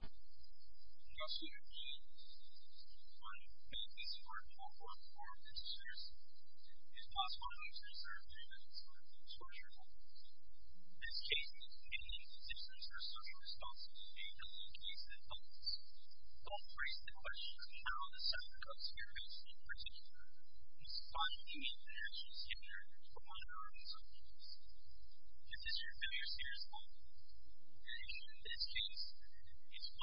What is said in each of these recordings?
Dr. Dean, on behalf of the Supreme Court of Florida Board of Judiciaries, is passing on his reservation of the torturable. In this case, he is in a position to assert his responsibility in dealing with cases of violence. Don't raise the question of how the subject of your case will proceed. You must find the information secure for one or more subjects. If this is the case, it must happen. Now, the South Coast State Supreme Court hearing expires in 2021 for a team of four subjects. If the hearing still is out, it must happen. The Supreme Court needs to do something. It is no longer a crime to investigate without a precedent. If you need any more details, please reach out to us,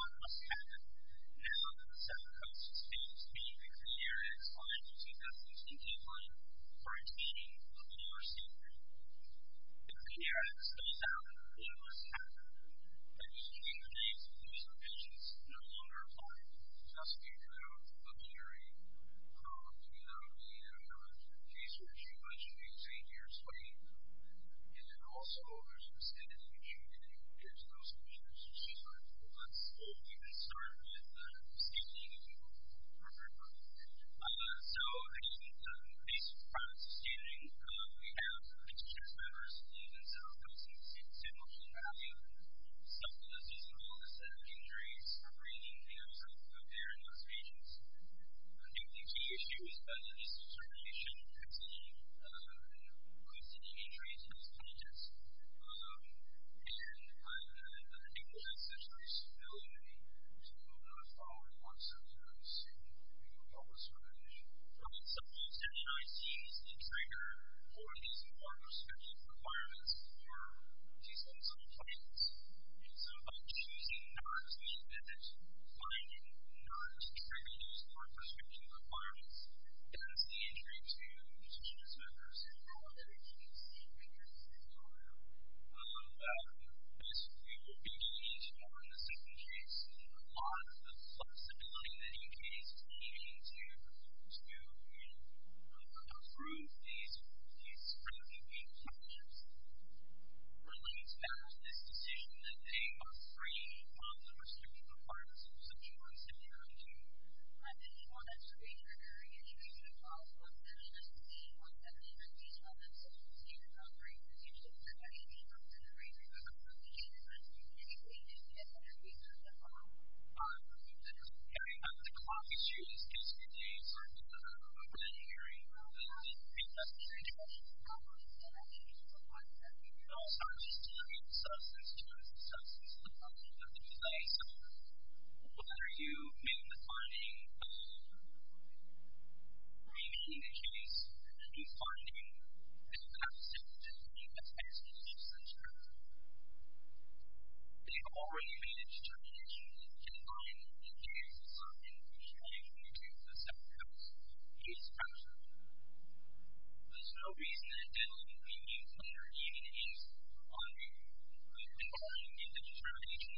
and we can start with the same thing if you want more information. So, in addition to increased crime sustaining, we have a team of five or six students in the South Coast in the state of San Joaquin County. Some of those students all have set of injuries or breathing issues out there in those regions. One of the key issues is discrimination. I've seen an increase in that, and I've been able to assess their stability. There's a little bit of a following concept, and I'm assuming that we can help with some of that issue. Some of the subjects that I see as the trigger for these more prescription requirements are these unsung clients. So, by choosing not to admit, finding not to trigger these more prescription requirements does the injury to the student's members and how they can be seen in this scenario. This will be changed upon the second case, and a lot of the flexibility that you may see in order to improve these prescription-based subjects relates back to this decision that they must free from the prescription requirements of the Supreme Court, similarly to admitting to a prescription-based injury in a case of a child who has been in a disease for 17 or 18 months and has been seen in other institutions that may be subject to injury, regardless of the case, as opposed to admitting to a case in which they have been in a case of a child who has been in a disease. I mean, at the clock, it's usually just two days, or a couple of days, or a year, or a month, depending on the situation. So, any questions about that? No, I mean, it's just a concept. No, it's not. It's just a substance. It's just a substance. It's a function of the device. So, what are you making the finding of? Are you making the case that these findings are not simply a test of substance use? They've already been a determination that can bind a case of substance use to a case of substance use. It is fractured. There's no reason that it doesn't mean that you've already made a case for bonding. You've been probably already making a determination thatYoung woman's voice is inaudible.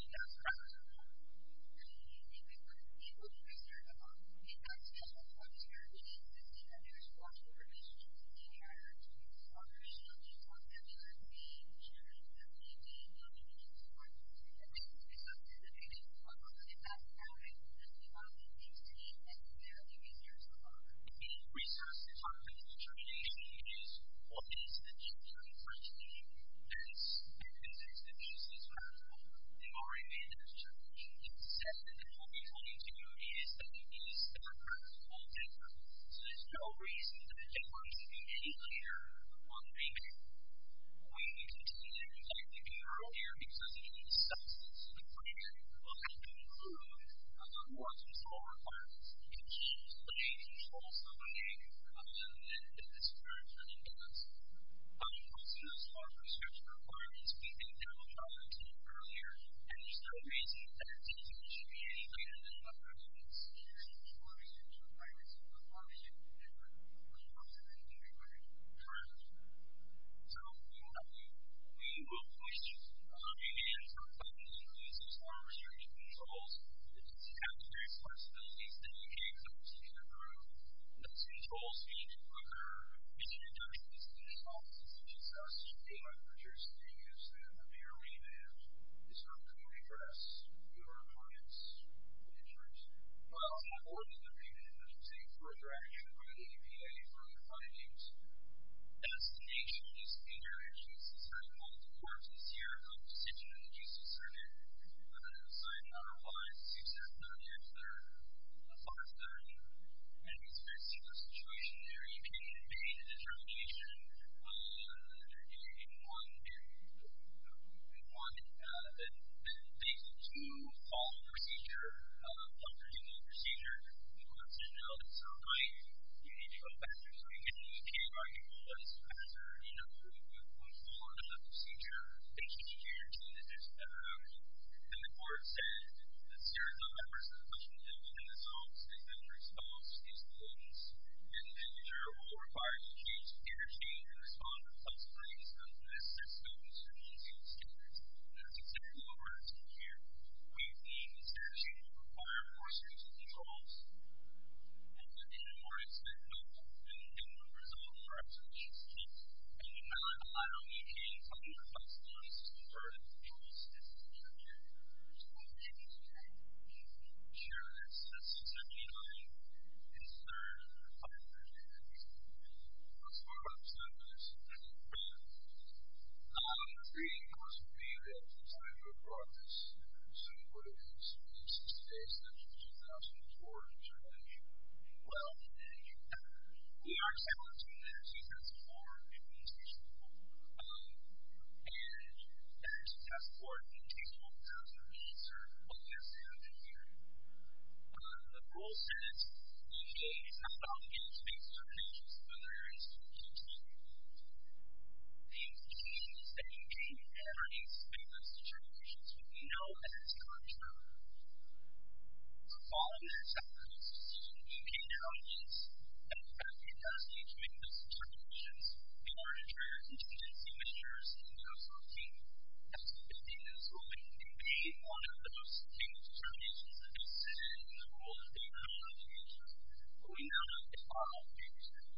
The research department determination is, what is the change on the front page? And it's evidence that this is practical. We've already made that determination. It's said that what we're telling you to do is that you need to step up your own effort. So there's no reason that anyone should be any later on the main page. We need to continue what we were doing earlier because it is self-explanatory. We'll have to include more control requirements. It changes the way you control somebody and it's very trending to us. Also, there's more research requirements. We think that was mentioned earlier. And there's no reason that anyone should be any later than the front page. It's very self-explanatory. It's very self-reporting. It's very relevant. It's relevant to everybody. It's relevant. So, yeah. We will push on the main page. Our findings include some strong restrictive controls. It's the capillary responsibilities that we gave to our senior group. And those controls need to occur. It's an induction. It's an install. It's a discussion. It might purchase a new use. It might be a rebrand. It's not going to be for us. It would be for our clients. It would be for us. Well, it's more than the main page. It's a further action by the EPA for the findings. Destination, use of the internet, use of the site, quality of the corpse, use of the CRM, health position, and the use of the circuit. And then the site and other clients. It's used as an object. It's there. As long as there's any specific situation there, you can make a determination in one day. In one day. And these two follow procedure, the control and the procedure. And the court said, there's a number of questions that we're going to solve. And the response is the following. The manager will require you to change the interchange and respond to the consequences of this system. And that's exactly what we're asking here. And we need the interchange to be resolved. There's a number of other questions and controls. And then the more I said, no, there's a number of other questions. And now I don't need any further questions. There's a number of controls. There's a number of interchanges. There's a number of interchanges. Sure. That's the 79. And there's a number of other interchanges. That's part of our process. Okay. Great. The question being, what is the basis of the 2004 interchange? Well, we are set on a two-day success score in this case. And there's a test score. It takes 1,000 minutes or less than a year. The rule says, Okay. It's not about getting to make determinations, but there is a key to it. The key is that you can't ever expect those determinations to be known as contrary. So, following that set of rules, you can now use that capacity to make those determinations. They aren't your contingency measures, and you have some key. That's the key. And so, it can be one of those things, determinations, and the rules may not change that. But we know that it's part of the interchange.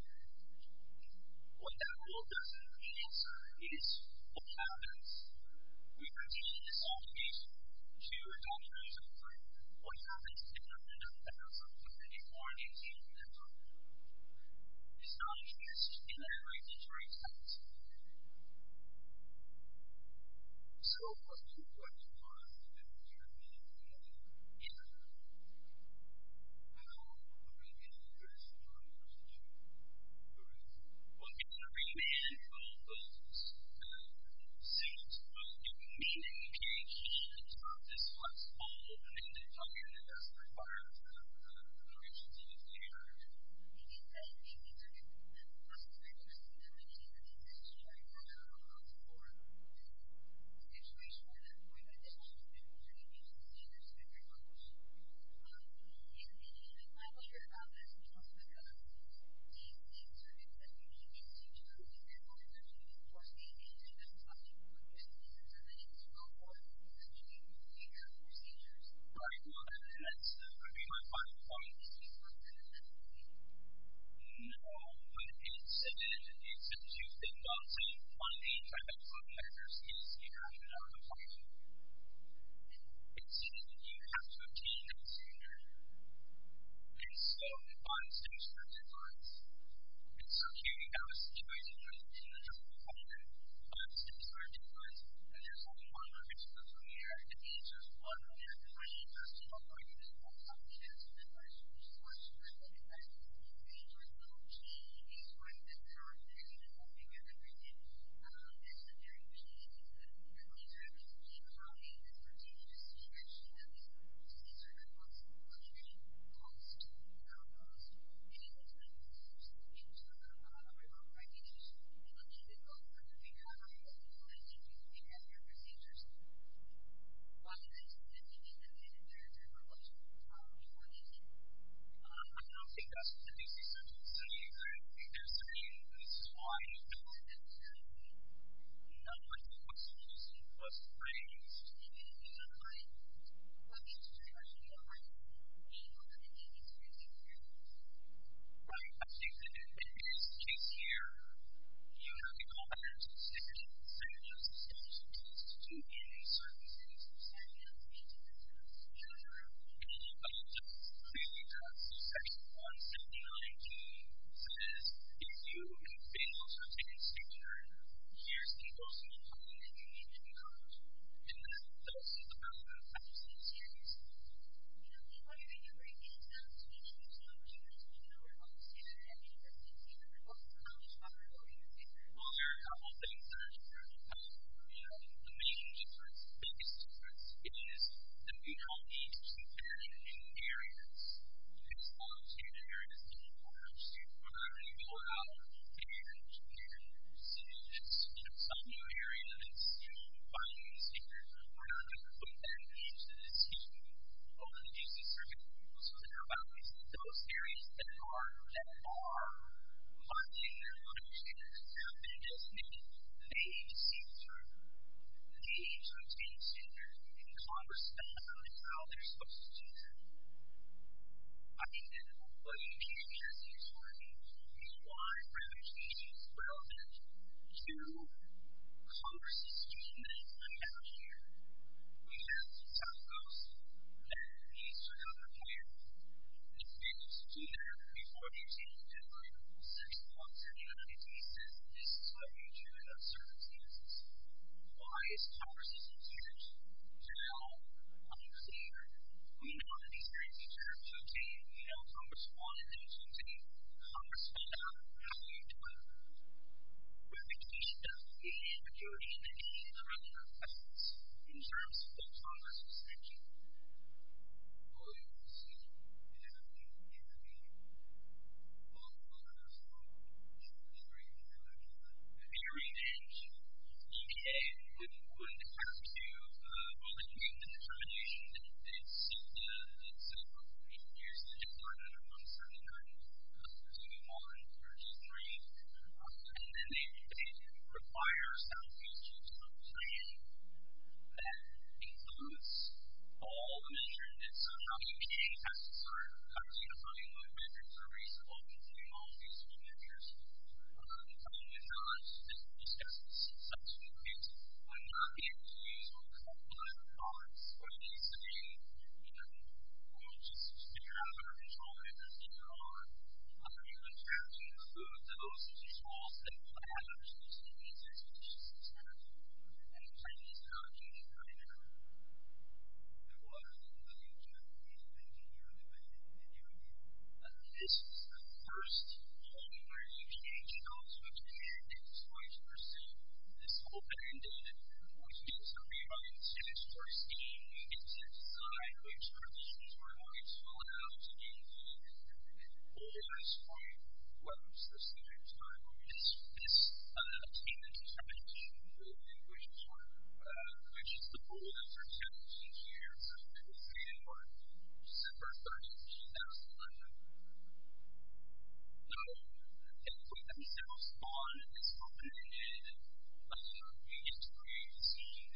What that rule doesn't answer is what happens. We continue this altercation to adopt a new set of rules. What happens is that we end up with something that is more an interchange than a rule. It's not a change in any way, but it's a result. So, it's something that you have to obtain, consider, and so, it binds to a certain device. And so, here you have a situation where you have a system that doesn't define it, binds to a certain device, and there's something wrong with it. So, from here, it means there's one more thing that's wrong with it. There's one more chance of it. So, it's one step ahead. So, it means there's no change. It's one step down. There's even nothing at the beginning. It's the very key. And so, these are just brief comments. So, did you just mention that these rules are a possible alteration? Yes. So, maybe that's what you're suggesting. I mean, it's not a wrong recognition. It might be difficult for you to figure out how to apply it, and you can't figure out your procedure. So, what is it that you need to do in order to avoid it? I don't think that's what the DCC is suggesting. I think there's a reason. This is why I need to look at it. I'm not sure if the question was raised. No, it wasn't. The question is, actually, what are the rules that you need to use in order to avoid it? Right. I think that, if it is the case here, you have the confidence of sticking to the standards established in the constitution, and a certain degree of certainty, I think it's a good thing to do. Sure. Okay. So, maybe that's the question. Section 179 says, if you have failed to adhere to standards, here's the most important thing you need to know. And, that's the question that the DCC is asking. And, what are the other things that you need to know in order to avoid it? And, what are the other things that you need to know in order to avoid it? Well, there are a couple things that are important. The main difference, biggest difference, is that you don't need to compare it in areas. It's not to compare it in any part of the state. We're not going to go out and compare it in any particular area. We're just going to do it in some new area and see if we can find new standards. We're not going to put that into the teaching of the DCC. So, there are values in those areas that are, that are, binding their own standards. They're, they're designated, they need to see the truth. They need to obtain standards and converse with them on how they're supposed to do that. I mean, what you need to understand is, for me, is why private teaching is relevant to converse teaching that we have here. We have the top goals, and these are not required. The students, sooner or before they've taken their six months of united thesis, this is what you do in that circumstance. Why is converse teaching huge? Now, I'm clear, I mean, a lot of these areas are, you know, converse one, and then converse two. Converse one, how do you do it? Private teaching doesn't mean that you don't need to teach the relevant lessons in terms of the converse instruction. Oh, I see. Is that what you mean? Is that what you mean? Oh, I'm sorry. Oh, I'm sorry. I didn't mean that. I'm sorry. I didn't mean that. So, it's a group of eight years to get started, and I'm standing on two, one, two, three. And then they require a sound piece to be obtained that includes all the measurements. So, how do you get your tests started? How do you define what metrics are reasonable to include in all these different measures? I'm not going to discuss such a thing. I'm not going to use all the common points. I'm going to use the main, and we'll just figure out how to control it as we go along. How do you attach and include those controls? And what kind of changes do you need to make? What changes does it have to include? Are there any Chinese characters in there? No. There wasn't. But you do. You do. You do. You do. And this is the first time where you change how to obtain and how to receive this whole band-aid. We can also rewind to the first game. It's Inside, which for those of you who don't know, it's Fallout 2. The goal at this point, well, it's the standard time, is this attainment determination goal, in which it's the goal after 17 years of completing it, or December 30th, 2011. Now, everything else on this open-ended game can be decided now December 30th, 2018. And our association didn't agree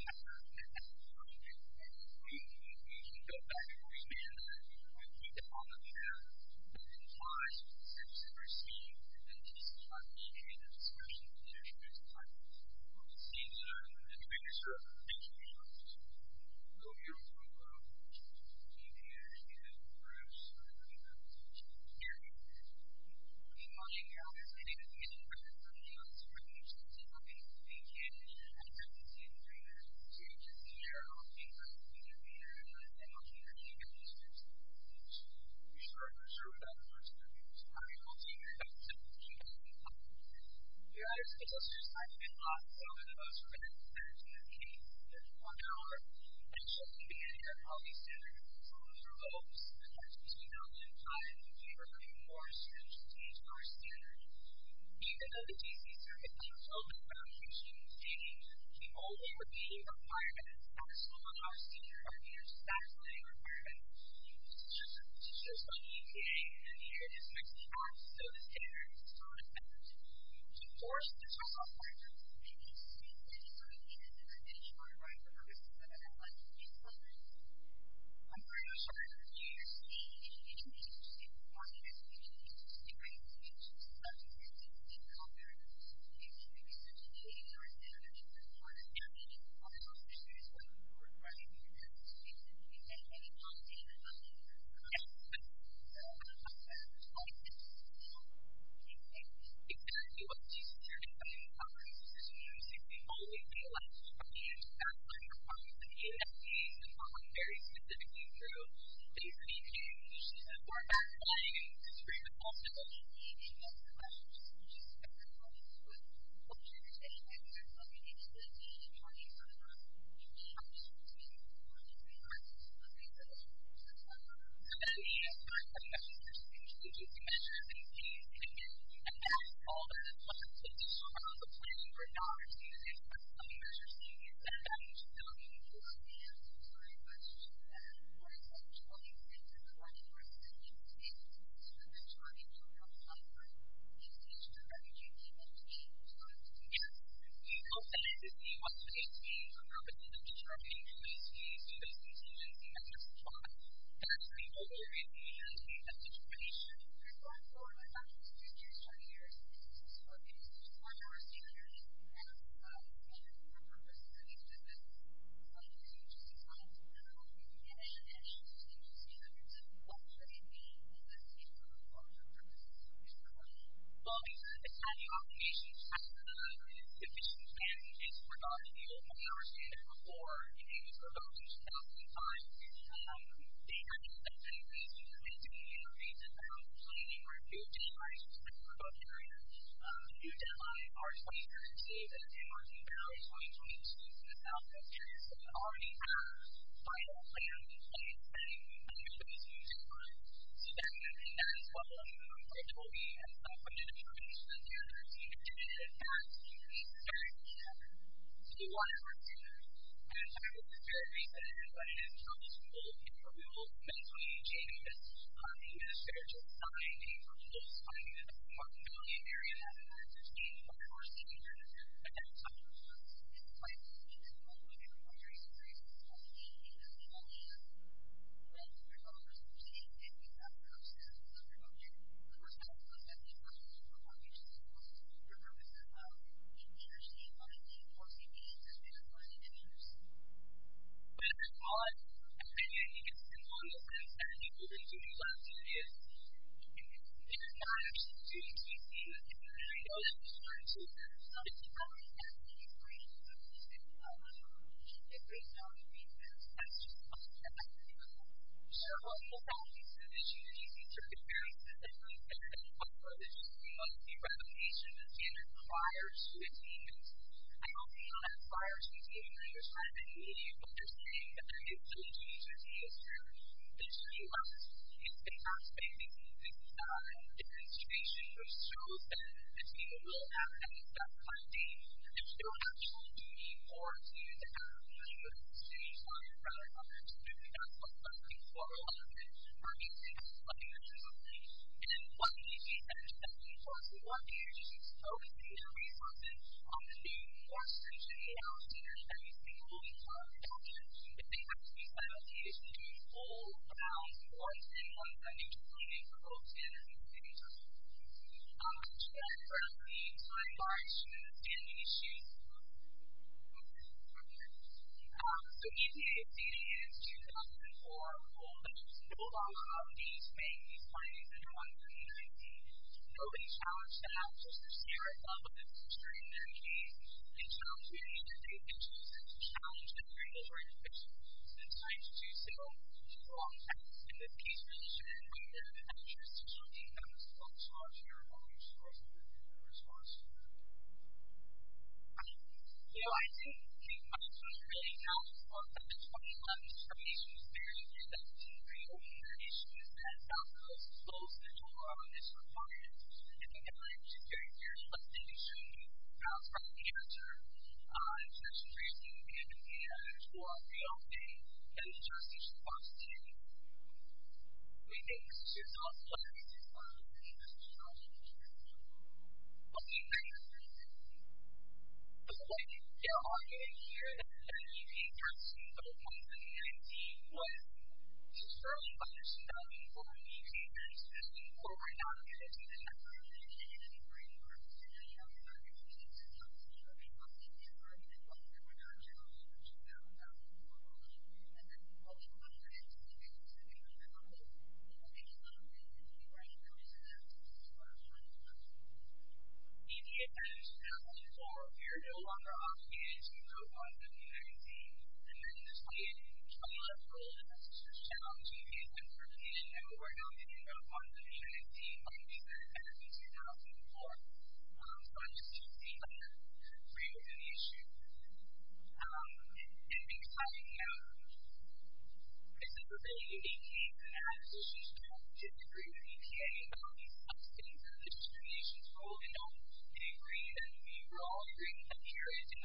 with EPA about these things, or this determination goal. They don't. They agree that we we're all agreeing that here is in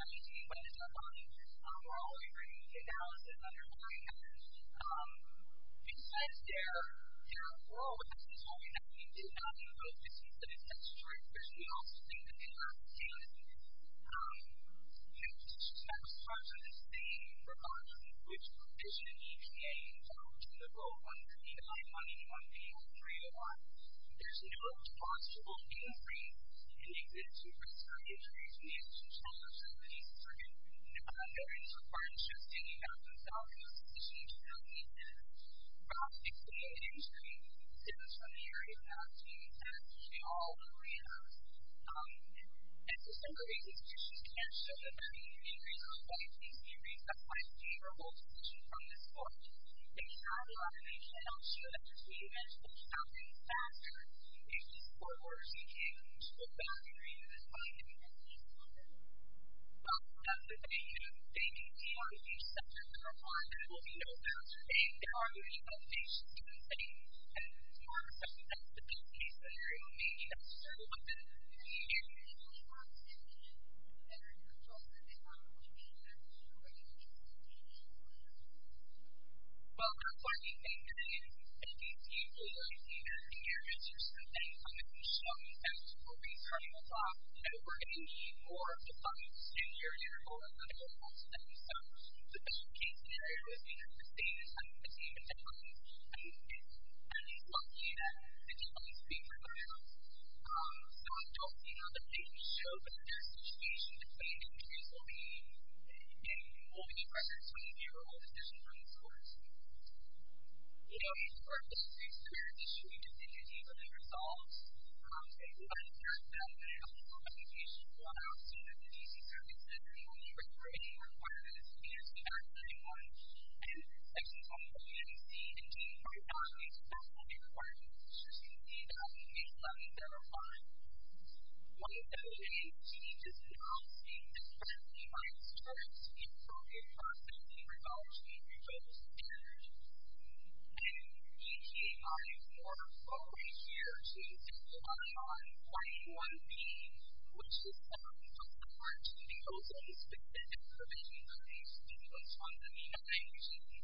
1911 we're all agreeing that now is another time. And because their their goal at this point is the goal after 17 years of completing it, there's no possible increase in the existence of respiratory injuries in Fallout 2. There is no partnership in the United States to that. So our association doesn't agree that respiratory injuries stem from the area of Fallout 2, and we all agree that at December 30th we can't show that we agree that there are no complete decisions for social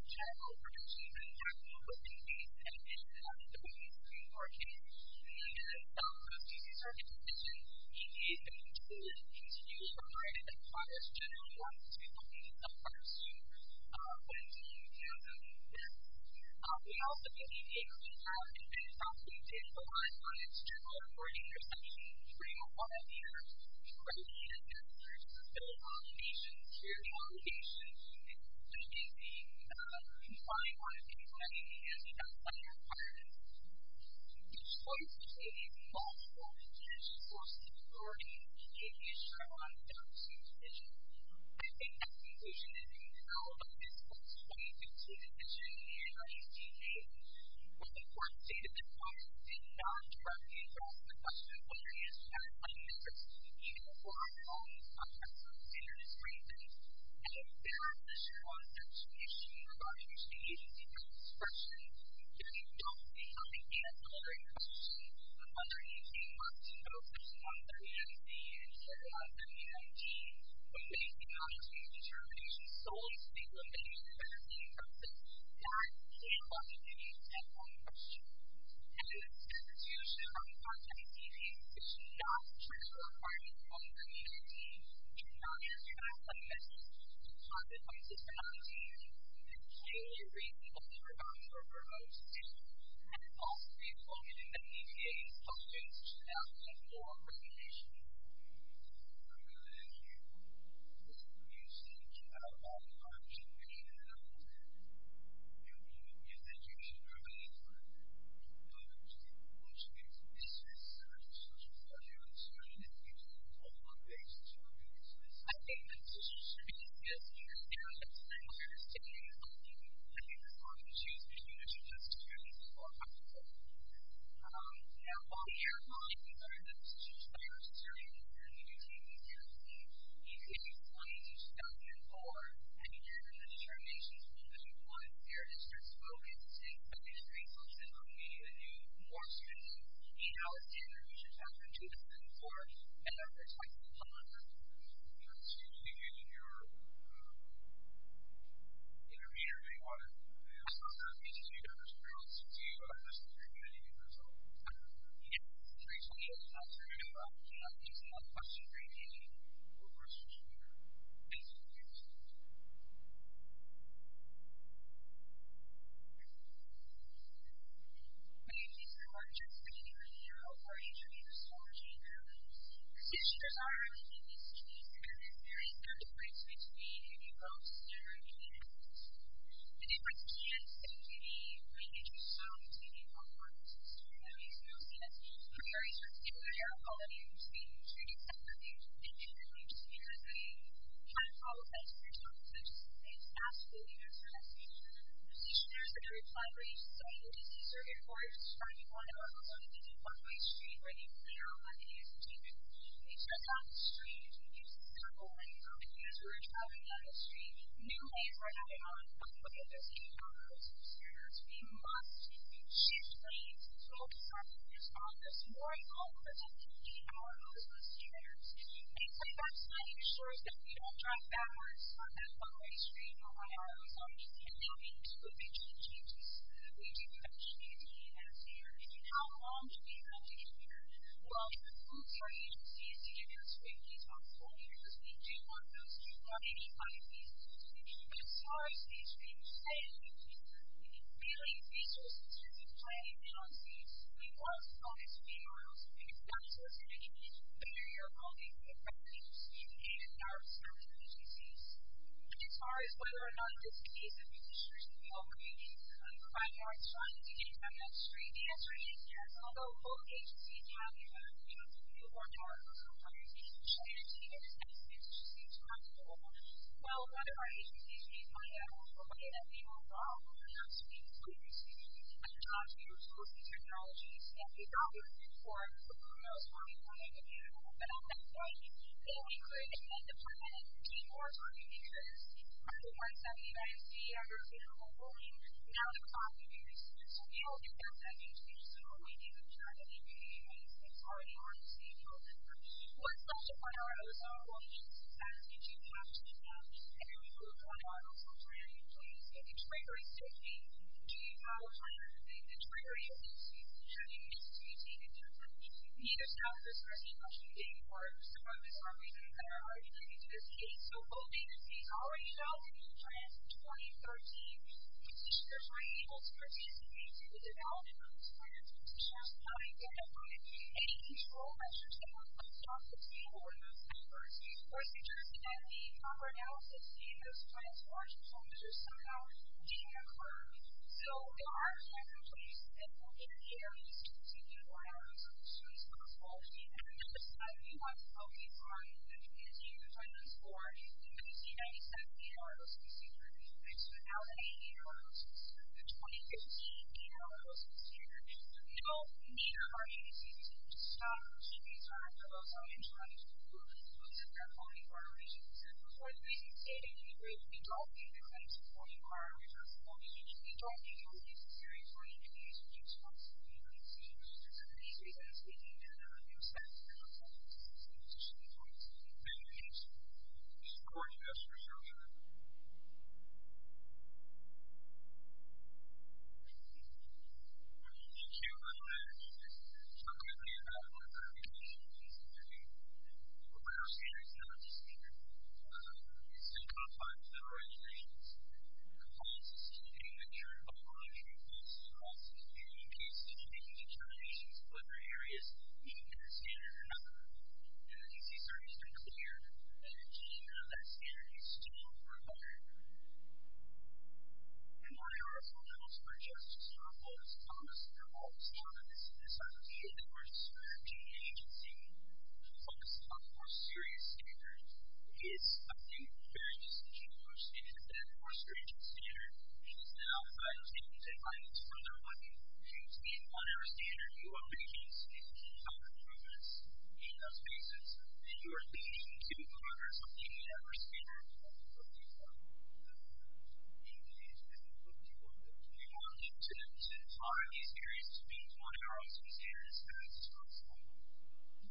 responsibility versus the US government presentation schedule.